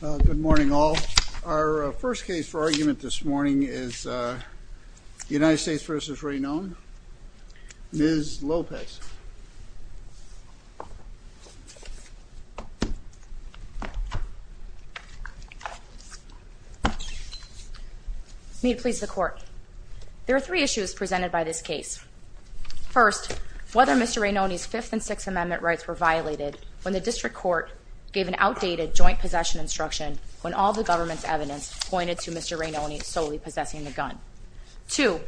Good morning all. Our first case for argument this morning is United States v. Rainone. Ms. Lopez. May it please the court. There are three issues presented by this case. First, whether Mr. Rainone's Fifth and Sixth Amendment rights were violated when the district court gave an outdated joint possession instruction when all the government's evidence pointed to Mr. Rainone solely possessing the gun. Two,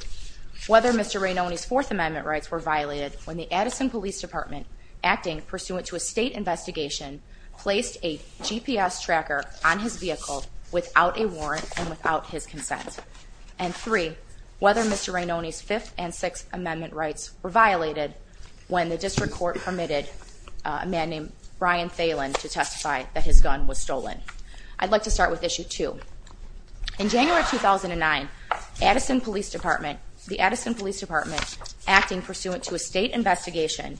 whether Mr. Rainone's Fourth Amendment rights were violated when the Addison Police Department, acting pursuant to a state investigation, placed a GPS tracker on his vehicle without a warrant and without his consent. And three, whether Mr. Rainone's Fifth and Sixth Amendment rights were violated when the district court permitted a man named Brian Thalen to testify that his gun was stolen. I'd like to start with issue two. In January 2009, the Addison Police Department, acting pursuant to a state investigation,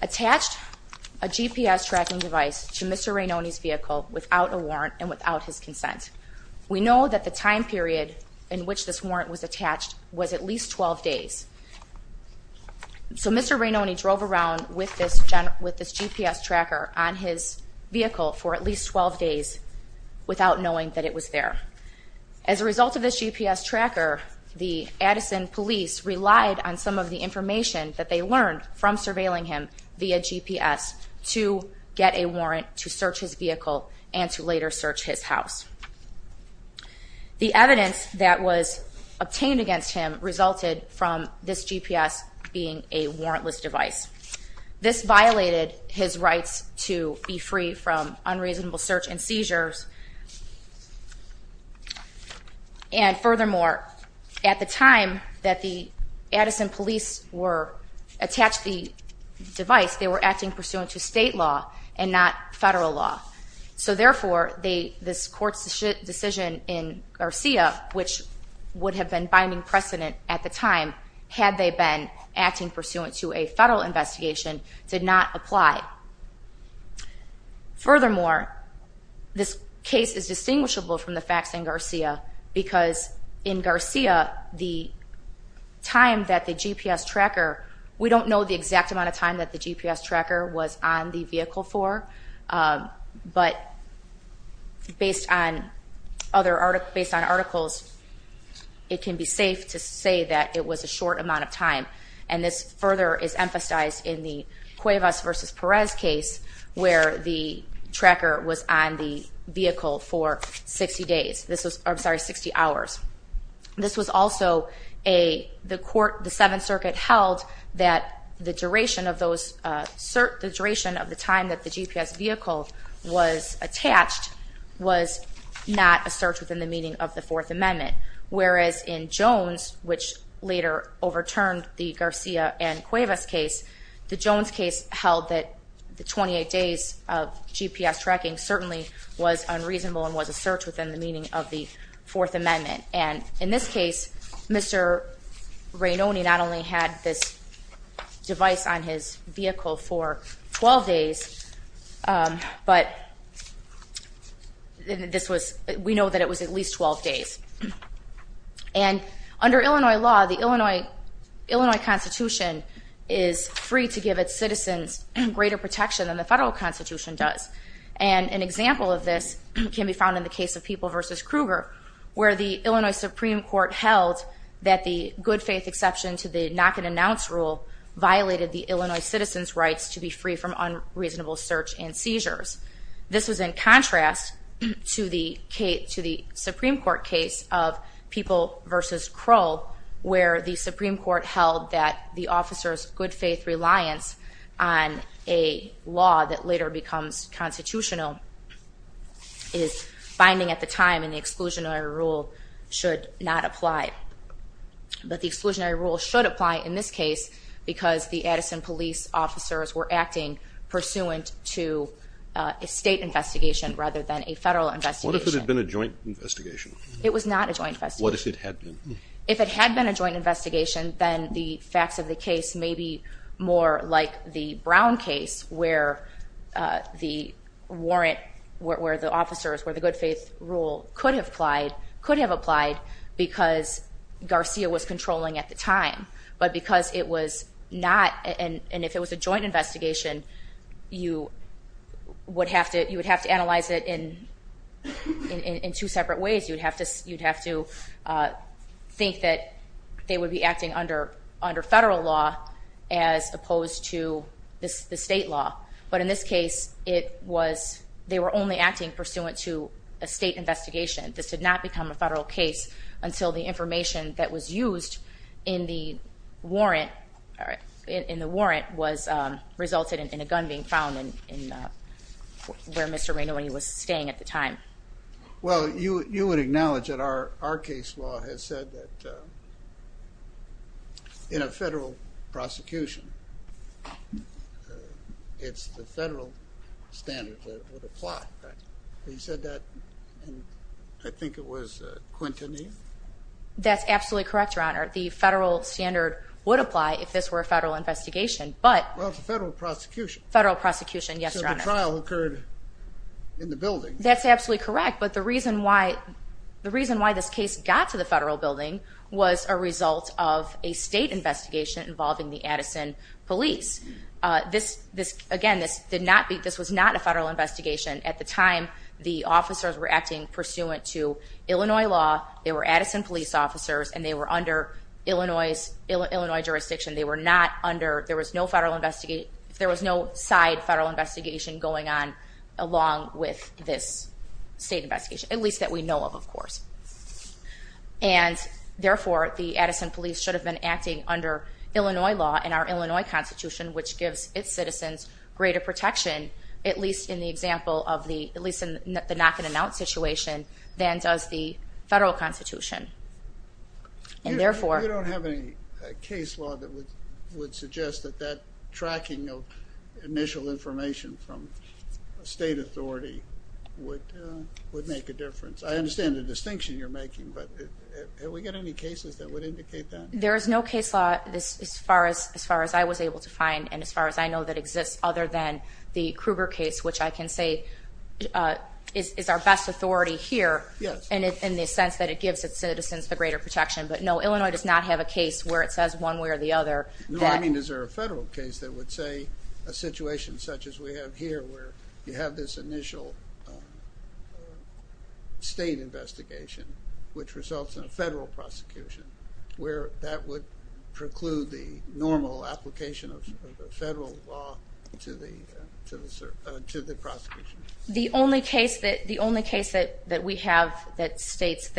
attached a GPS tracking device to Mr. Rainone's vehicle without a warrant and without his consent. We know that the time period in which this warrant was attached was at least 12 days. So Mr. Rainone drove around with this GPS tracker on his vehicle for at least 12 days without knowing that it was there. As a result of this GPS tracker, the Addison Police relied on some of the information that they learned from surveilling him via GPS to get a warrant to search his vehicle and to later search his house. The evidence that was obtained against him resulted from this GPS being a warrantless device. This violated his rights to be free from unreasonable search and seizures. And furthermore, at the time that the Addison Police attached the device, they were acting pursuant to state law and not federal law. So therefore, this court's decision in Garcia, which would have been binding precedent at the time had they been acting pursuant to a federal investigation, did not apply. Furthermore, this case is distinguishable from the facts in Garcia because in Garcia, the time that the GPS tracker... We don't know the exact amount of time that the GPS tracker was on the vehicle for, but based on articles, it can be safe to say that it was a short amount of time. And this further is emphasized in the Cuevas v. Perez case, where the tracker was on the vehicle for 60 hours. This was also a... The 7th Circuit held that the duration of the time that the GPS vehicle was attached was not a search within the meaning of the Fourth Amendment. Whereas in Jones, which later overturned the Garcia and Cuevas case, the Jones case held that the 28 days of GPS tracking certainly was unreasonable and was a search within the meaning of the Fourth Amendment. And in this case, Mr. Rainoni not only had this device on his vehicle for 12 days, but this was... We know that it was at least 12 days. And under Illinois law, the Illinois Constitution is free to give its citizens greater protection than the federal Constitution does. And an example of this can be found in the case of People v. Kruger, where the Illinois Supreme Court held that the good-faith exception to the knock-and-announce rule violated the Illinois citizens' rights to be free from unreasonable search and seizures. This was in contrast to the Supreme Court case of People v. Krull, where the Supreme Court held that the officers' good-faith reliance on a law that later becomes constitutional is binding at the time, and the exclusionary rule should not apply. But the exclusionary rule should apply in this case because the Addison police officers were acting pursuant to a state investigation rather than a federal investigation. What if it had been a joint investigation? It was not a joint investigation. What if it had been? If it had been a joint investigation, then the facts of the case may be more like the Brown case, where the warrant, where the officers, where the good-faith rule could have applied because Garcia was controlling at the time. But because it was not, and if it was a joint investigation, you would have to analyze it in two separate ways. You'd have to think that they would be acting under federal law as opposed to the state law. But in this case, they were only acting pursuant to a state investigation. This did not become a federal case until the information that was used in the warrant resulted in a gun being found where Mr. Rainoni was staying at the time. Well, you would acknowledge that our case law has said that in a federal prosecution, it's the federal standard that would apply. You said that in, I think it was, Quintanilla? That's absolutely correct, Your Honor. The federal standard would apply if this were a federal investigation, but... Well, it's a federal prosecution. Federal prosecution, yes, Your Honor. So the trial occurred in the building. That's absolutely correct, but the reason why this case got to the federal building was a result of a state investigation involving the Addison police. Again, this was not a federal investigation. At the time, the officers were acting pursuant to Illinois law. They were Addison police officers, and they were under Illinois jurisdiction. There was no side federal investigation going on along with this state investigation, at least that we know of, of course. And therefore, the Addison police should have been acting under Illinois law and our Illinois Constitution, which gives its citizens greater protection, at least in the example of the knock-and-announce situation, than does the federal Constitution. And therefore... You don't have any case law that would suggest that that tracking of initial information from a state authority would make a difference. I understand the distinction you're making, but have we got any cases that would indicate that? There is no case law as far as I was able to find and as far as I know that exists other than the Kruger case, which I can say is our best authority here in the sense that it gives its citizens the greater protection. But no, Illinois does not have a case where it says one way or the other. No, I mean, is there a federal case that would say a situation such as we have here, where you have this initial state investigation, which results in a federal prosecution, where that would preclude the normal application of federal law to the prosecution? The only case that we have that states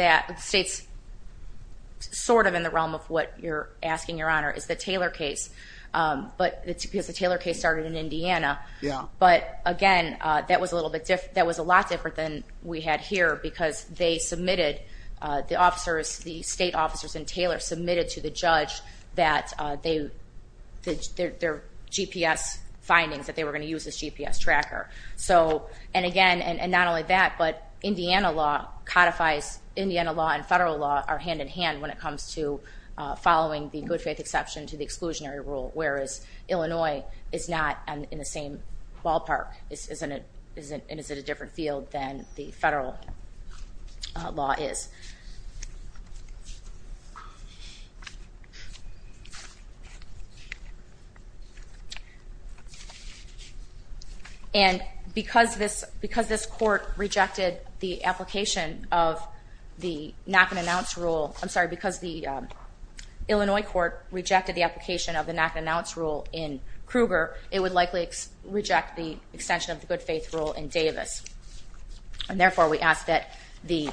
sort of in the realm of what you're asking, Your Honor, is the Taylor case, because the Taylor case started in Indiana. Yeah. But again, that was a little bit different. That was a lot different than we had here because they submitted, the officers, the state officers in Taylor submitted to the judge that their GPS findings, that they were going to use this GPS tracker. And again, and not only that, but Indiana law codifies, Indiana law and federal law are hand-in-hand when it comes to following the good faith exception to the exclusionary rule, whereas Illinois is not in the same ballpark and is in a different field than the federal law is. And because this court rejected the application of the knock-and-announce rule, I'm sorry, because the Illinois court rejected the application of the knock-and-announce rule in Kruger, it would likely reject the extension of the good faith rule in Davis. And therefore, we ask that the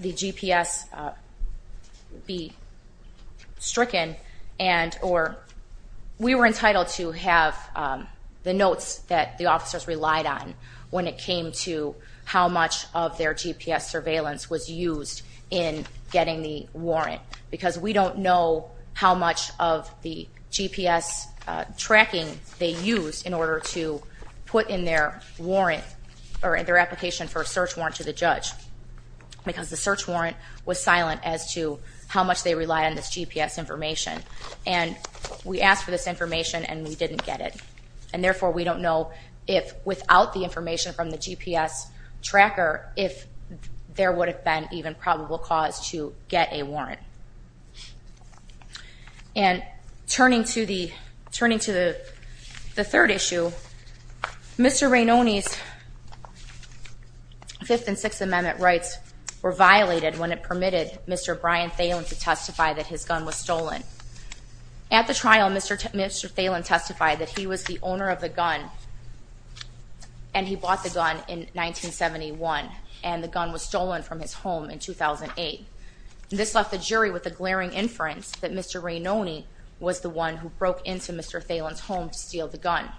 GPS be stricken, and or we were entitled to have the notes that the officers relied on when it came to how much of their GPS surveillance was used in getting the warrant. Because we don't know how much of the GPS tracking they used in order to put in their warrant, or their application for a search warrant to the judge, because the search warrant was silent as to how much they relied on this GPS information. And we asked for this information and we didn't get it. And therefore, we don't know if without the information from the GPS tracker, if there would have been even probable cause to get a warrant. And turning to the third issue, Mr. Rainone's Fifth and Sixth Amendment rights were violated when it permitted Mr. Brian Thelen to testify that his gun was stolen. At the trial, Mr. Thelen testified that he was the owner of the gun and he bought the gun in 1971, and the gun was stolen from his home in 2008. This left the jury with a glaring inference that Mr. Rainone was the one who broke into Mr. Thelen's home to steal the gun.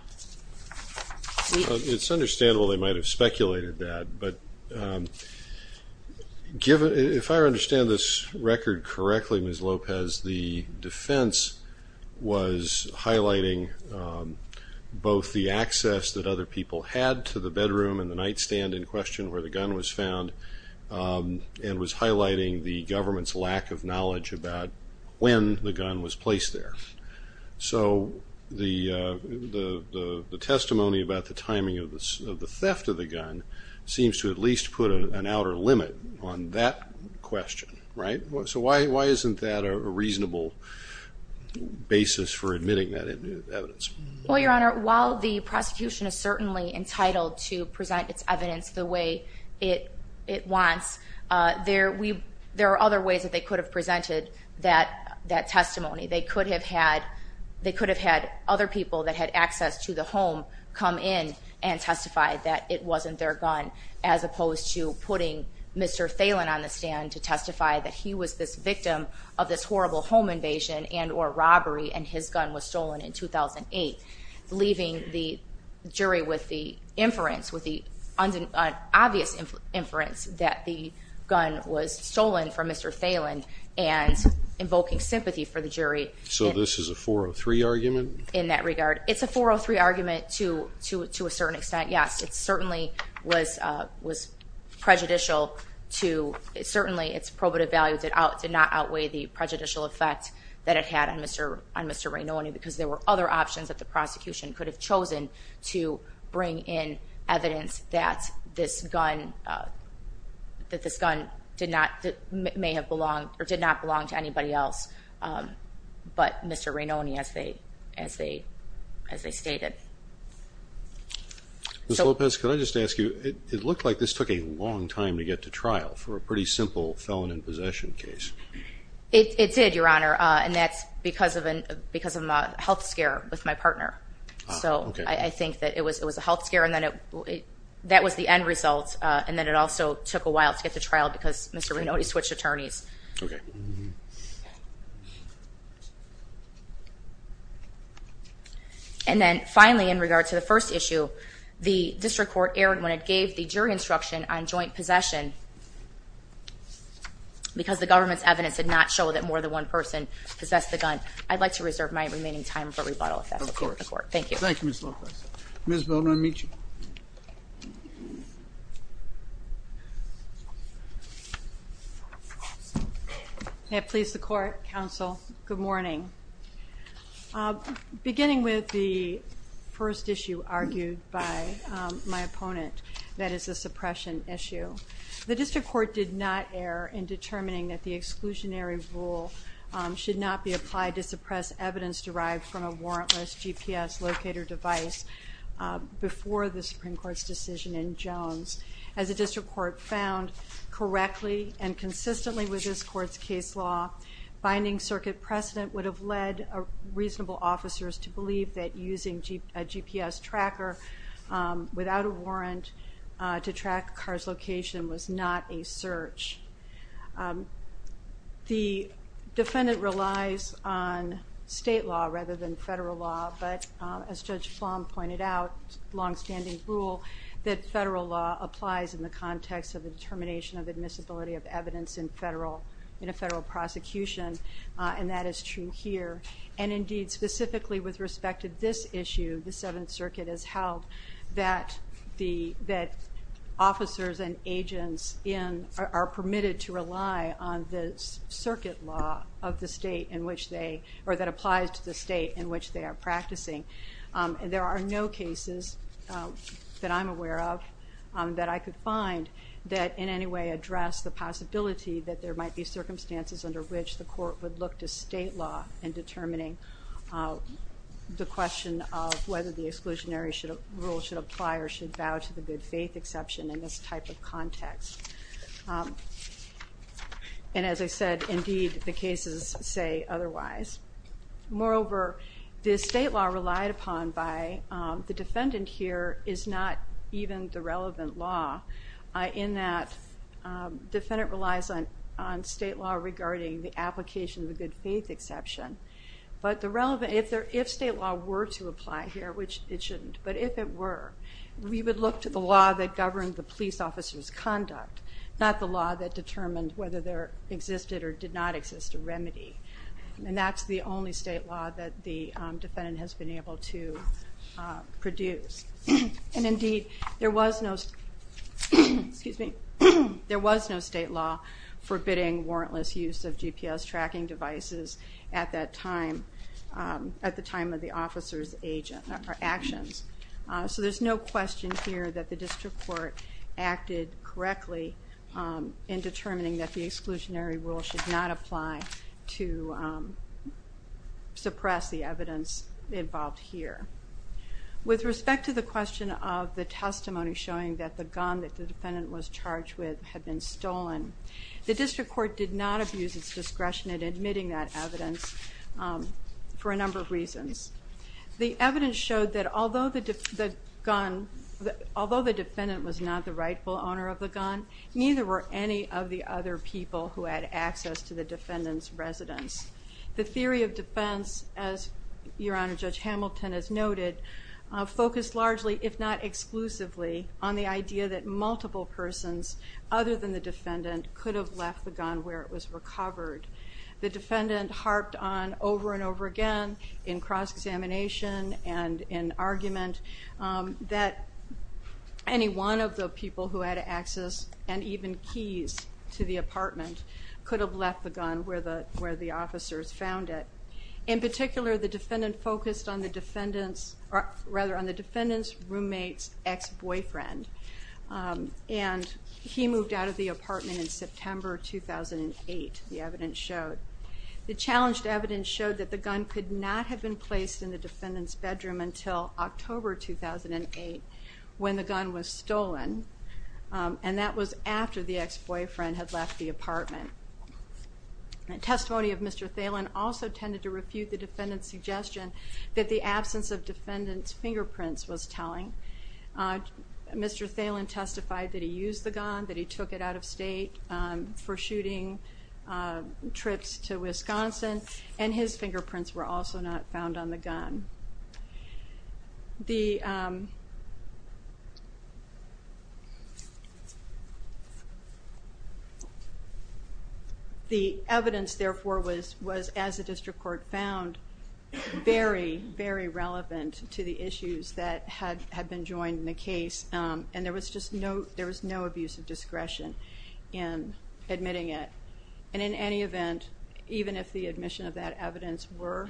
It's understandable they might have speculated that, but if I understand this record correctly, Ms. Lopez, the defense was highlighting both the access that other people had to the bedroom and the nightstand in question where the gun was found, and was highlighting the government's lack of knowledge about when the gun was placed there. So the testimony about the timing of the theft of the gun seems to at least put an outer limit on that question, right? So why isn't that a reasonable basis for admitting that evidence? Well, Your Honor, while the prosecution is certainly entitled to present its evidence the way it wants, there are other ways that they could have presented that testimony. They could have had other people that had access to the home come in and testify that it wasn't their gun, as opposed to putting Mr. Thelen on the stand to testify that he was this victim of this horrible home invasion and or robbery, and his gun was stolen in 2008, leaving the jury with the inference, with the obvious inference, that the gun was stolen from Mr. Thelen and invoking sympathy for the jury. So this is a 403 argument? In that regard, it's a 403 argument to a certain extent, yes. It certainly was prejudicial to, certainly its probative value did not outweigh the prejudicial effect that it had on Mr. Rainoni because there were other options that the prosecution could have chosen to bring in evidence that this gun did not, may have belonged, or did not belong to anybody else but Mr. Rainoni, as they stated. Ms. Lopez, could I just ask you, it looked like this took a long time to get to trial for a pretty simple felon in possession case. It did, Your Honor, and that's because of a health scare with my partner. So I think that it was a health scare and that was the end result, and that it also took a while to get to trial because Mr. Rainoni switched attorneys. And then finally, in regard to the first issue, the district court erred when it gave the jury instruction on joint possession because the government's evidence did not show that more than one person possessed the gun. I'd like to reserve my remaining time for rebuttal if that's okay with the court. Of course. Thank you. Thank you, Ms. Lopez. Ms. Bowman, I'll meet you. May it please the Court, Counsel, good morning. Beginning with the first issue argued by my opponent, that is the suppression issue, the district court did not err in determining that the exclusionary rule should not be applied to suppress evidence derived from a warrantless GPS locator device before the Supreme Court's decision in Jones. As the district court found correctly and consistently with this Court's case law, binding circuit precedent would have led reasonable officers to believe that using a GPS tracker without a warrant to track a car's location was not a search. The defendant relies on state law rather than federal law, but as Judge Flom pointed out, longstanding rule, that federal law applies in the context of the determination of admissibility of evidence in a federal prosecution, and that is true here. And indeed, specifically with respect to this issue, the Seventh Circuit has held that officers and agents are permitted to rely on the circuit law of the state in which they, or that applies to the state in which they are practicing. There are no cases that I'm aware of that I could find that in any way address the possibility that there might be circumstances under which the court would look to state law in determining the question of whether the exclusionary rule should apply or should bow to the good faith exception in this type of context. And as I said, indeed, the cases say otherwise. Moreover, the state law relied upon by the defendant here is not even the relevant law in that the defendant relies on state law regarding the application of the good faith exception. But if state law were to apply here, which it shouldn't, but if it were, we would look to the law that governed the police officer's conduct, not the law that determined whether there existed or did not exist a remedy. And that's the only state law that the defendant has been able to produce. And indeed, there was no state law forbidding warrantless use of GPS tracking devices at the time of the officer's actions. So there's no question here that the district court acted correctly in determining that the exclusionary rule should not apply to suppress the evidence involved here. With respect to the question of the testimony showing that the gun that the defendant was charged with had been stolen, the district court did not abuse its discretion in admitting that evidence for a number of reasons. The evidence showed that although the defendant was not the rightful owner of the gun, neither were any of the other people who had access to the defendant's residence. The theory of defense, as Your Honor, Judge Hamilton has noted, focused largely, if not exclusively, on the idea that multiple persons other than the defendant could have left the gun where it was recovered. The defendant harped on over and over again in cross-examination and in argument that any one of the people who had access and even keys to the apartment could have left the gun where the officers found it. In particular, the defendant focused on the defendant's roommate's ex-boyfriend, and he moved out of the apartment in September 2008, the evidence showed. The challenged evidence showed that the gun could not have been placed in the defendant's bedroom until October 2008 when the gun was stolen, and that was after the ex-boyfriend had left the apartment. Testimony of Mr. Thalen also tended to refute the defendant's suggestion that the absence of defendant's fingerprints was telling. Mr. Thalen testified that he used the gun, that he took it out of state for shooting trips to Wisconsin, and his fingerprints were also not found on the gun. The evidence, therefore, was, as the district court found, very, very relevant to the issues that had been joined in the case, and there was no abuse of discretion in admitting it. And in any event, even if the admission of that evidence were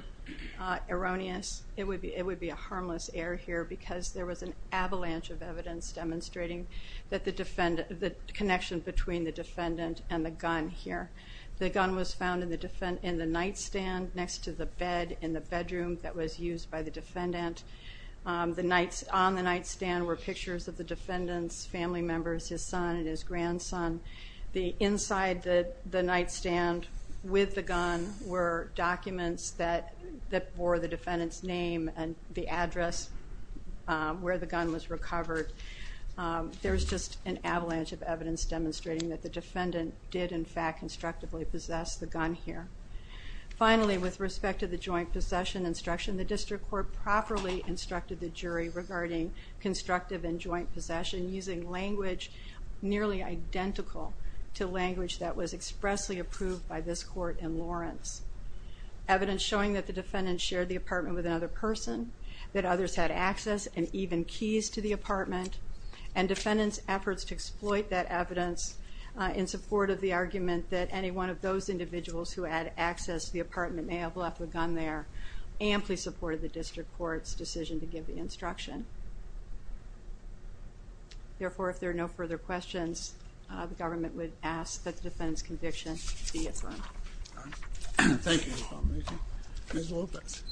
erroneous, it would be a harmless error here because there was an avalanche of evidence demonstrating the connection between the defendant and the gun here. The gun was found in the nightstand next to the bed in the bedroom that was used by the defendant. On the nightstand were pictures of the defendant's family members, his son and his grandson. Inside the nightstand with the gun were documents that bore the defendant's name and the address where the gun was recovered. There was just an avalanche of evidence demonstrating that the defendant did, in fact, constructively possess the gun here. Finally, with respect to the joint possession instruction, the district court properly instructed the jury regarding constructive and joint possession using language nearly identical to language that was expressly approved by this court in Lawrence. Evidence showing that the defendant shared the apartment with another person, that others had access and even keys to the apartment, and defendants' efforts to exploit that evidence in support of the argument that any one of those individuals who had access to the apartment may have left the gun there amply supported the district court's decision to give the instruction. Therefore, if there are no further questions, the government would ask that the defendant's conviction be affirmed. Thank you, Ms. Lopez.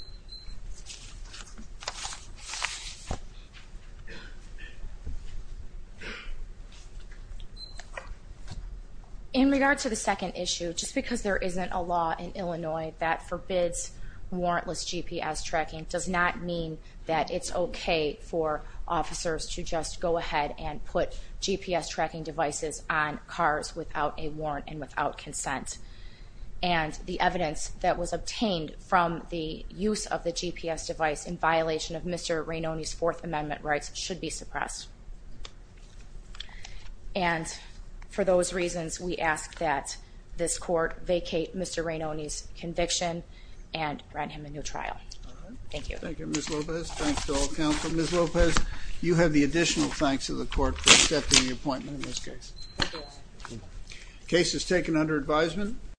In regard to the second issue, just because there isn't a law in Illinois that forbids warrantless GPS tracking does not mean that it's okay for officers to just go ahead and put GPS tracking devices on cars without a warrant and without consent. And the evidence that was obtained from the use of the GPS device in violation of Mr. Rainone's Fourth Amendment rights should be suppressed. And for those reasons, we ask that this court vacate Mr. Rainone's conviction and grant him a new trial. Thank you. Thank you, Ms. Lopez. Thanks to all counsel. Ms. Lopez, you have the additional thanks of the court for accepting the appointment in this case. Case is taken under advisement.